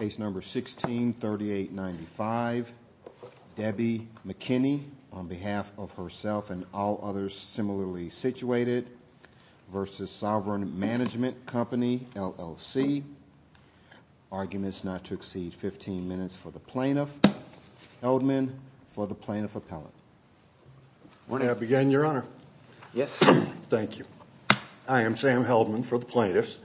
Case number 163895. Debi McKinney on behalf of herself and all others similarly situated v. Sovereign Management Company LLC. Arguments not to exceed 15 minutes for the plaintiff. Heldman for the plaintiff appellate. May I begin your honor? Yes. Thank you. I am Sam Heldman for the plaintiffs.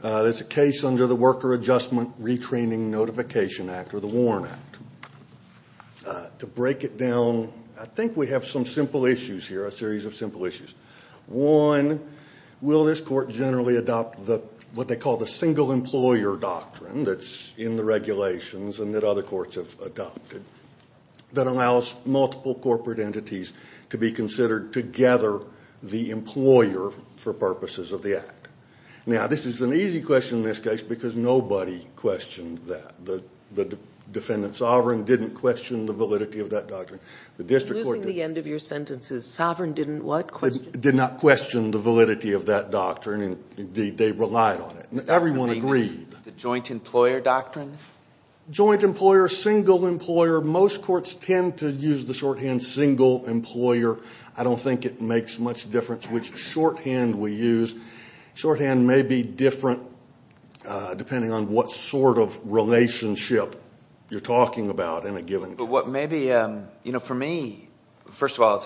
This is a case under the Worker Adjustment Retraining Notification Act or the WARN Act. To break it down I think we have some simple issues here, a series of simple issues. One, will this court generally adopt what they call the single employer doctrine that's in the regulations and that other courts have adopted that allows multiple corporate entities to be considered together the Now this is an easy question in this case because nobody questioned that. The defendant, Sovereign, didn't question the validity of that doctrine. The district court... Losing the end of your sentences, Sovereign didn't what question? Did not question the validity of that doctrine and they relied on it. Everyone agreed. The joint employer doctrine? Joint employer, single employer, most courts tend to use the shorthand single employer. I don't think it makes much difference which shorthand we use. Shorthand may be different depending on what sort of relationship you're talking about in a given case. For me, first of all,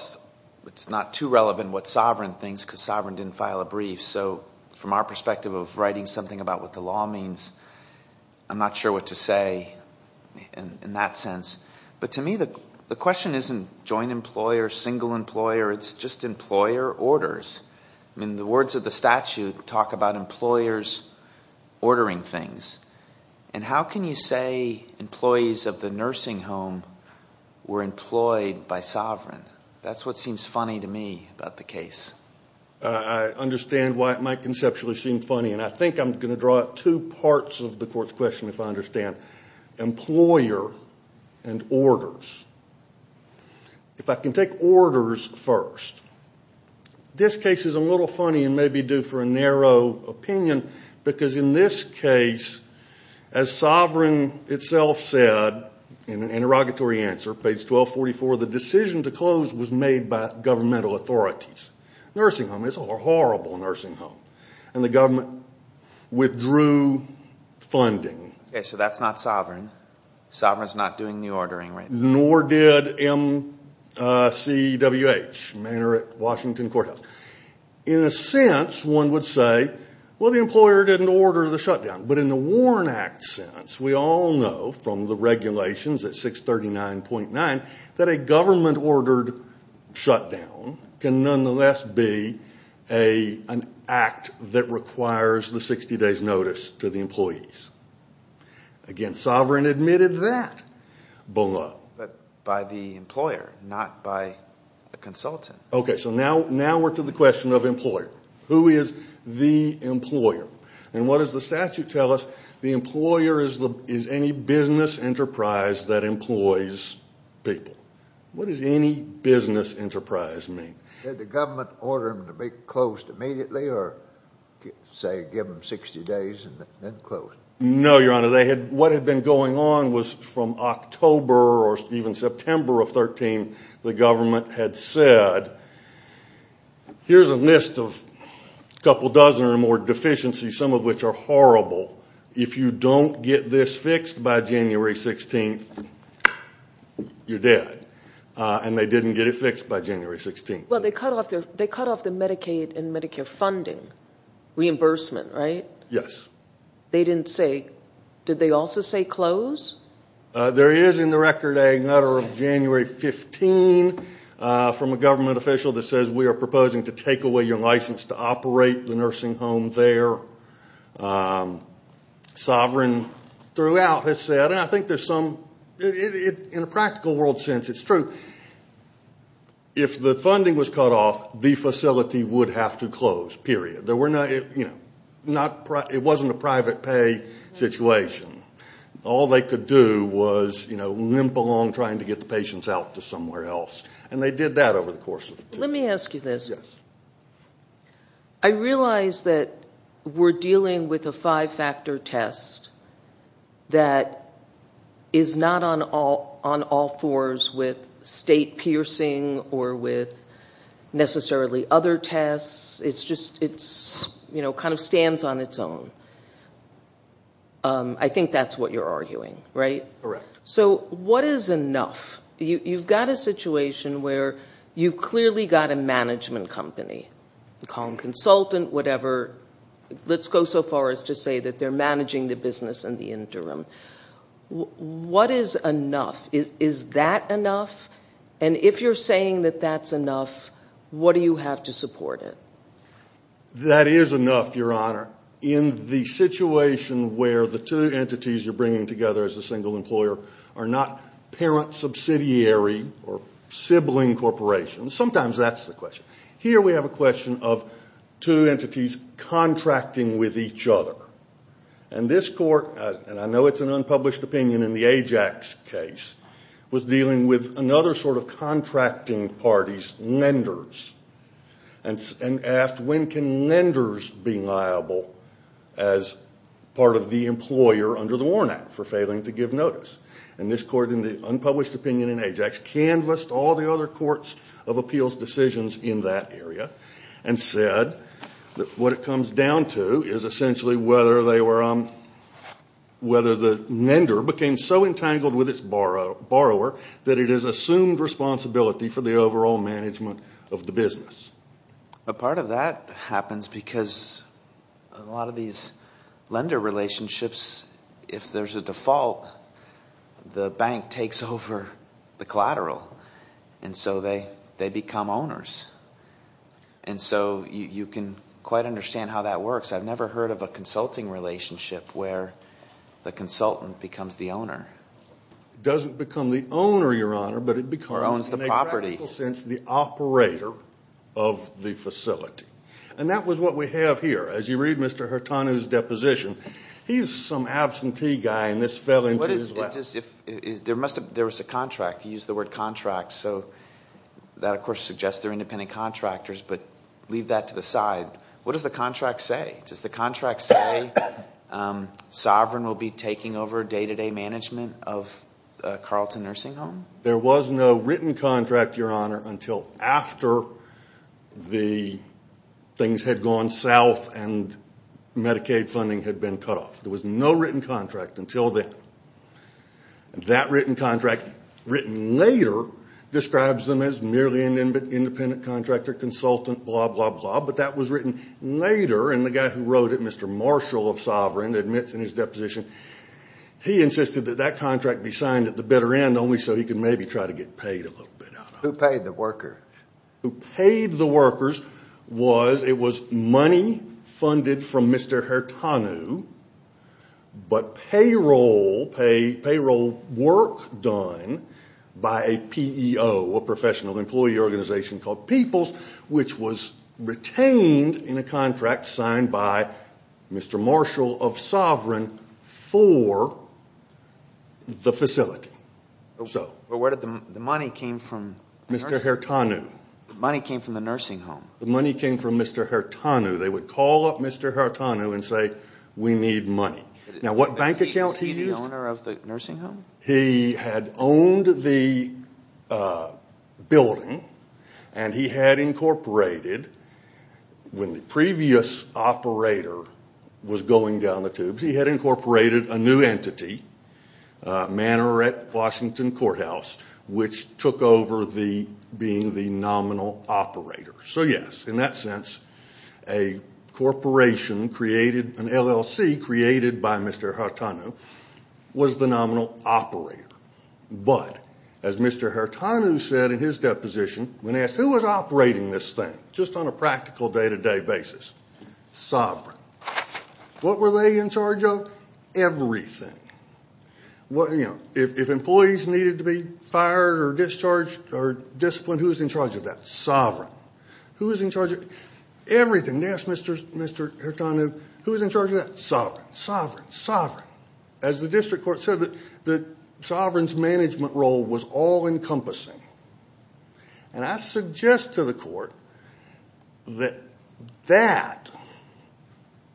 it's not too relevant what Sovereign thinks because Sovereign didn't file a brief. So from our perspective of writing something about what the law means, I'm not sure what to say in that sense. But to me the question isn't joint employer, single employer, it's just employer orders. The words of the statute talk about employers ordering things and how can you say employees of the nursing home were employed by Sovereign? That's what seems funny to me about the case. I understand why it might conceptually seem funny and I think I'm going to draw two parts of the court's question if I understand. Employer and orders. If I can take orders first. This case is a little funny and may be due for a narrow opinion because in this case as Sovereign itself said in an interrogatory answer, page 1244, the decision to close was made by governmental authorities. Nursing homes are horrible nursing homes. And the Sovereign, Sovereign's not doing the ordering. Nor did MCWH, Manorette Washington Courthouse. In a sense, one would say, well the employer didn't order the shutdown. But in the Warren Act sentence, we all know from the regulations at 639.9 that a government ordered shutdown can nonetheless be an act that requires the 60 days notice to the employees. Again, Sovereign admitted that below. But by the employer, not by a consultant. Okay, so now, now we're to the question of employer. Who is the employer? And what does the statute tell us? The employer is the, is any business enterprise that employs people. What does any business enterprise mean? Did the government order them to be closed immediately or say give them 60 days and then close? No, Your What had been going on was from October or even September of 13, the government had said, here's a list of a couple dozen or more deficiencies, some of which are horrible. If you don't get this fixed by January 16th, you're dead. And they didn't get it fixed by January 16th. Well, they cut off their, they cut off the Medicaid and Medicare funding reimbursement, right? Yes. They didn't say, did they also say close? There is in the record a letter of January 15 from a government official that says we are proposing to take away your license to operate the nursing home there. Sovereign throughout has said, and I think there's some, in a practical world sense, it's true. If the funding was cut off, the facility would have to close, period. There were not, you know, not, it wasn't a private pay situation. All they could do was, you know, limp along trying to get the patients out to somewhere else. And they did that over the course of the Let me ask you this. Yes. I realize that we're dealing with a five-factor test that is not on all fours with state piercing or with necessarily other tests. It's just, it's, you know, kind of stands on its own. I think that's what you're arguing, right? Correct. So what is enough? You've got a situation where you've clearly got a management company, a consultant, whatever. Let's go so far as to say that they're managing the business in the interim. What is enough? Is that enough? And if you're saying that that's enough, what do you have to support it? That is enough, Your Honor, in the situation where the two entities you're bringing together as a single employer are not parent subsidiary or sibling corporations. Sometimes that's the question. Here we have a question of two entities contracting with each other. And this court, and I know it's an unpublished opinion in the Ajax case, was dealing with another sort of contracting party's lenders and asked when can lenders be liable as part of the employer under the Warren Act for failing to give notice. And this court, in the unpublished opinion in Ajax, canvassed all the other courts of appeals decisions in that area and said that what it comes down to is essentially whether the lender became so entangled with its borrower that it has assumed responsibility for the overall management of the business. But part of that happens because a lot of these lender relationships, if there's a default, the bank takes over the collateral. And so they become owners. And so you can quite understand how that works. I've never heard of a consulting relationship where the consultant becomes the owner. Doesn't become the owner, Your Honor, but it becomes in a practical sense the operator of the facility. And that was what we have here. As you read Mr. Hurtanu's deposition, he's some absentee guy and this fell into his lap. There was a contract. He used the word contract. So that of course suggests they're independent contractors, but leave that to the side. What does the contract say? Does the contract say sovereign will be taking over day-to-day management of Carlton Nursing Home? There was no written contract, Your Honor, until after the things had gone south and Medicaid funding had been cut off. There was no written contract until then. That written contract, written later, describes them as merely an independent contractor, consultant, blah, blah, blah. But that was written later, and the guy who wrote it, Mr. Marshall of Sovereign, admits in his deposition he insisted that that contract be signed at the bitter end only so he could maybe try to get paid a little bit. Who paid the worker? Who paid the workers was, it was money funded from Mr. Hurtanu, but payroll, payroll work done by a PEO, a professional employee organization called Peoples, which was retained in a contract signed by Mr. Marshall of Sovereign for the facility. But where did the money come from? Mr. Hurtanu. The money came from the nursing home. The money came from Mr. Hurtanu. They would call up Mr. Hurtanu and say we need money. Now what bank account he used? Was he the owner of the nursing home? He had owned the building, and he had incorporated, when the previous operator was going down the tubes, he had incorporated a new entity, Manorette Washington Courthouse, which took over being the nominal operator. So yes, in that sense, a corporation created, an LLC created by Mr. Hurtanu was the nominal operator. But, as Mr. Hurtanu said in his deposition, when asked who was operating this thing, just on a practical day-to-day basis, sovereign. What were they in charge of? Everything. If employees needed to be fired or discharged or disciplined, who was in charge of that? Sovereign. Who was in charge of everything? And yes, Mr. Hurtanu, who was in charge of that? Sovereign. Sovereign. Sovereign. As the district court said, the sovereign's management role was all-encompassing. And I suggest to the court that that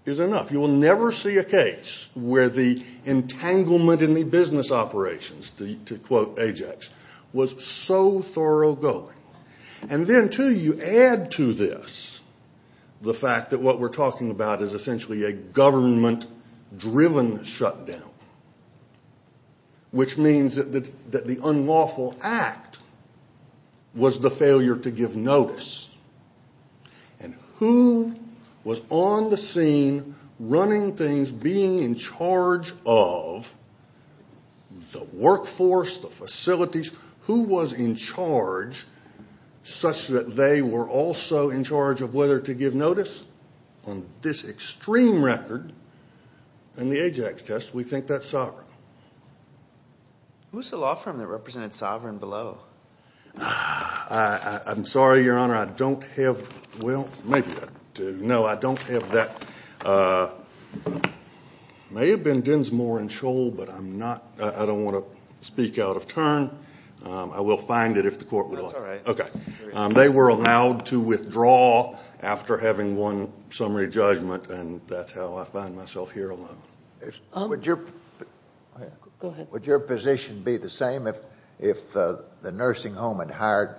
is enough. You will never see a case where the entanglement in the business operations, to quote Ajax, was so thorough going. And then, too, you add to this the fact that what we're talking about is essentially a government-driven shutdown, which means that the unlawful act was the failure to give notice. And who was on the scene running things, being in charge of the workforce, the facilities? Who was in charge such that they were also in charge of whether to give notice? On this extreme record in the Ajax test, we think that's sovereign. Who's the law firm that represented sovereign below? I'm sorry, Your Honor. I don't have, well, maybe I do. No, I don't have that. It may have been Dinsmore and Scholl, but I'm not, I don't want to speak out of turn. I will find it if the court will allow it. That's all right. Okay. They were allowed to withdraw after having won summary judgment, and that's how I find myself here alone. Would your position be the same if the nursing home had hired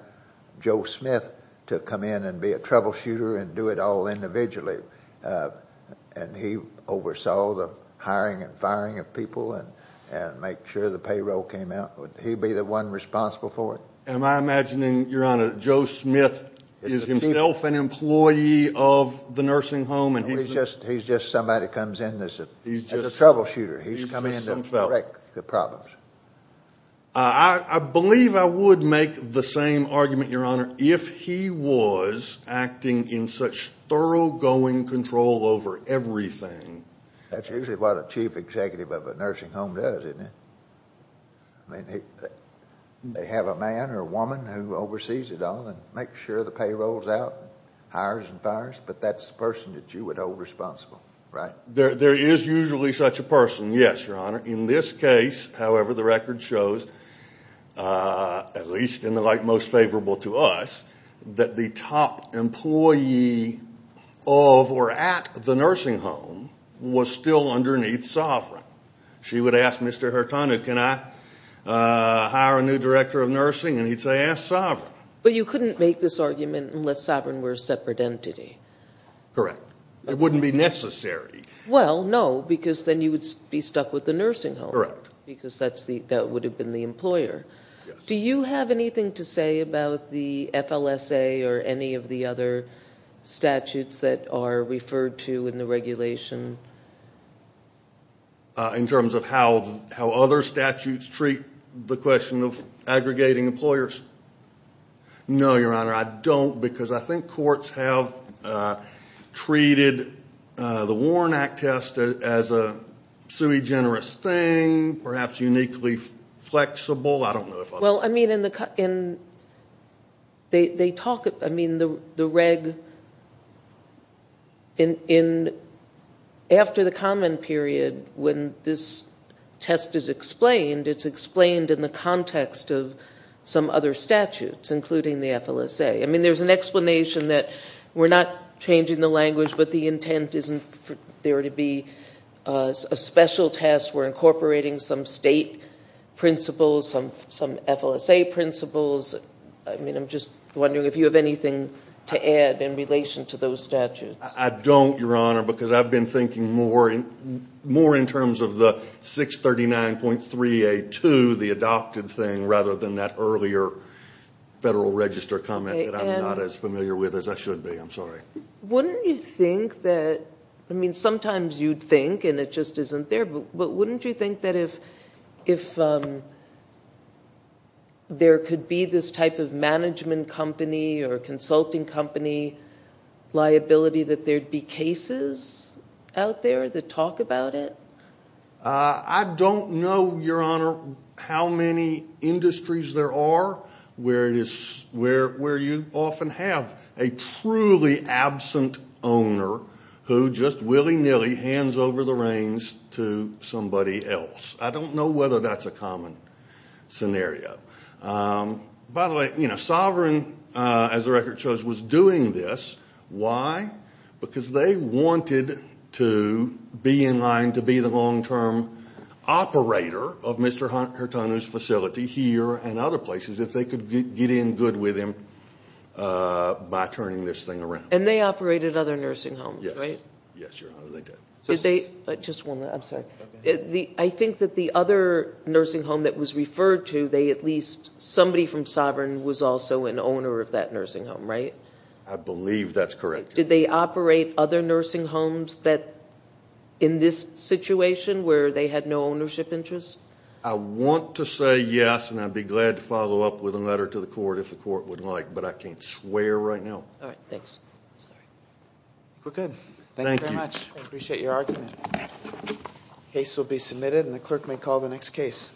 Joe Smith to come in and be a troubleshooter and do it all individually, and he oversaw the hiring and firing of people and make sure the payroll came out? Would he be the one responsible for it? Am I imagining, Your Honor, Joe Smith is himself an employee of the nursing home and he's just some fellow? No, he's just somebody that comes in as a troubleshooter. He's just some fellow. He's coming in to correct the problems. I believe I would make the same argument, Your Honor, if he was acting in such thoroughgoing control over everything. That's usually what a chief executive of a nursing home does, isn't it? I mean, they have a man or a woman who oversees it all and makes sure the payroll's out, hires and fires, but that's the person that you would hold responsible, right? There is usually such a person, yes, Your Honor. In this case, however, the record shows, at least in the light most favorable to us, that the top employee of or at the nursing home was still underneath Sovereign. She would ask Mr. Hurtado, can I hire a new director of nursing? And he'd say, ask Sovereign. But you couldn't make this argument unless Sovereign were a separate entity. Correct. It wouldn't be necessary. Well, no, because then you would be stuck with the nursing home. Correct. Because that would have been the employer. Yes. Do you have anything to say about the FLSA or any of the other statutes that are referred to in the regulation? In terms of how other statutes treat the question of aggregating employers? No, Your Honor, I don't, because I think courts have treated the Warren Act test as a semi-generous thing, perhaps uniquely flexible. I don't know if I'm – Well, I mean, in the – they talk – I mean, the reg – in – after the common period, when this test is explained, it's explained in the context of some other statutes, including the FLSA. I mean, there's an explanation that we're not changing the language, but the intent isn't there to be a special test. We're incorporating some state principles, some FLSA principles. I mean, I'm just wondering if you have anything to add in relation to those statutes. I don't, Your Honor, because I've been thinking more in terms of the 639.382, the adopted thing, rather than that earlier Federal Register comment that I'm not as familiar with as I should be. I'm sorry. Wouldn't you think that – I mean, sometimes you'd think, and it just isn't there, but wouldn't you think that if there could be this type of management company or consulting company liability, that there'd be cases out there that talk about it? I don't know, Your Honor, how many industries there are where it is – where you often have a truly absent owner who just willy-nilly hands over the reins to somebody else. I don't know whether that's a common scenario. By the way, you know, Sovereign, as the record shows, was doing this. Why? Because they wanted to be in line to be the long-term operator of Mr. Hurtado's facility here and other places if they could get in good with him by turning this thing around. And they operated other nursing homes, right? Yes, Your Honor, they did. Just one minute, I'm sorry. I think that the other nursing home that was referred to, they at least – somebody from Sovereign was also an owner of that nursing home, right? I believe that's correct. Did they operate other nursing homes in this situation where they had no ownership interests? I want to say yes, and I'd be glad to follow up with a letter to the court if the court would like, but I can't swear right now. All right, thanks. We're good. Thank you very much. I appreciate your argument. The case will be submitted, and the clerk may call the next case.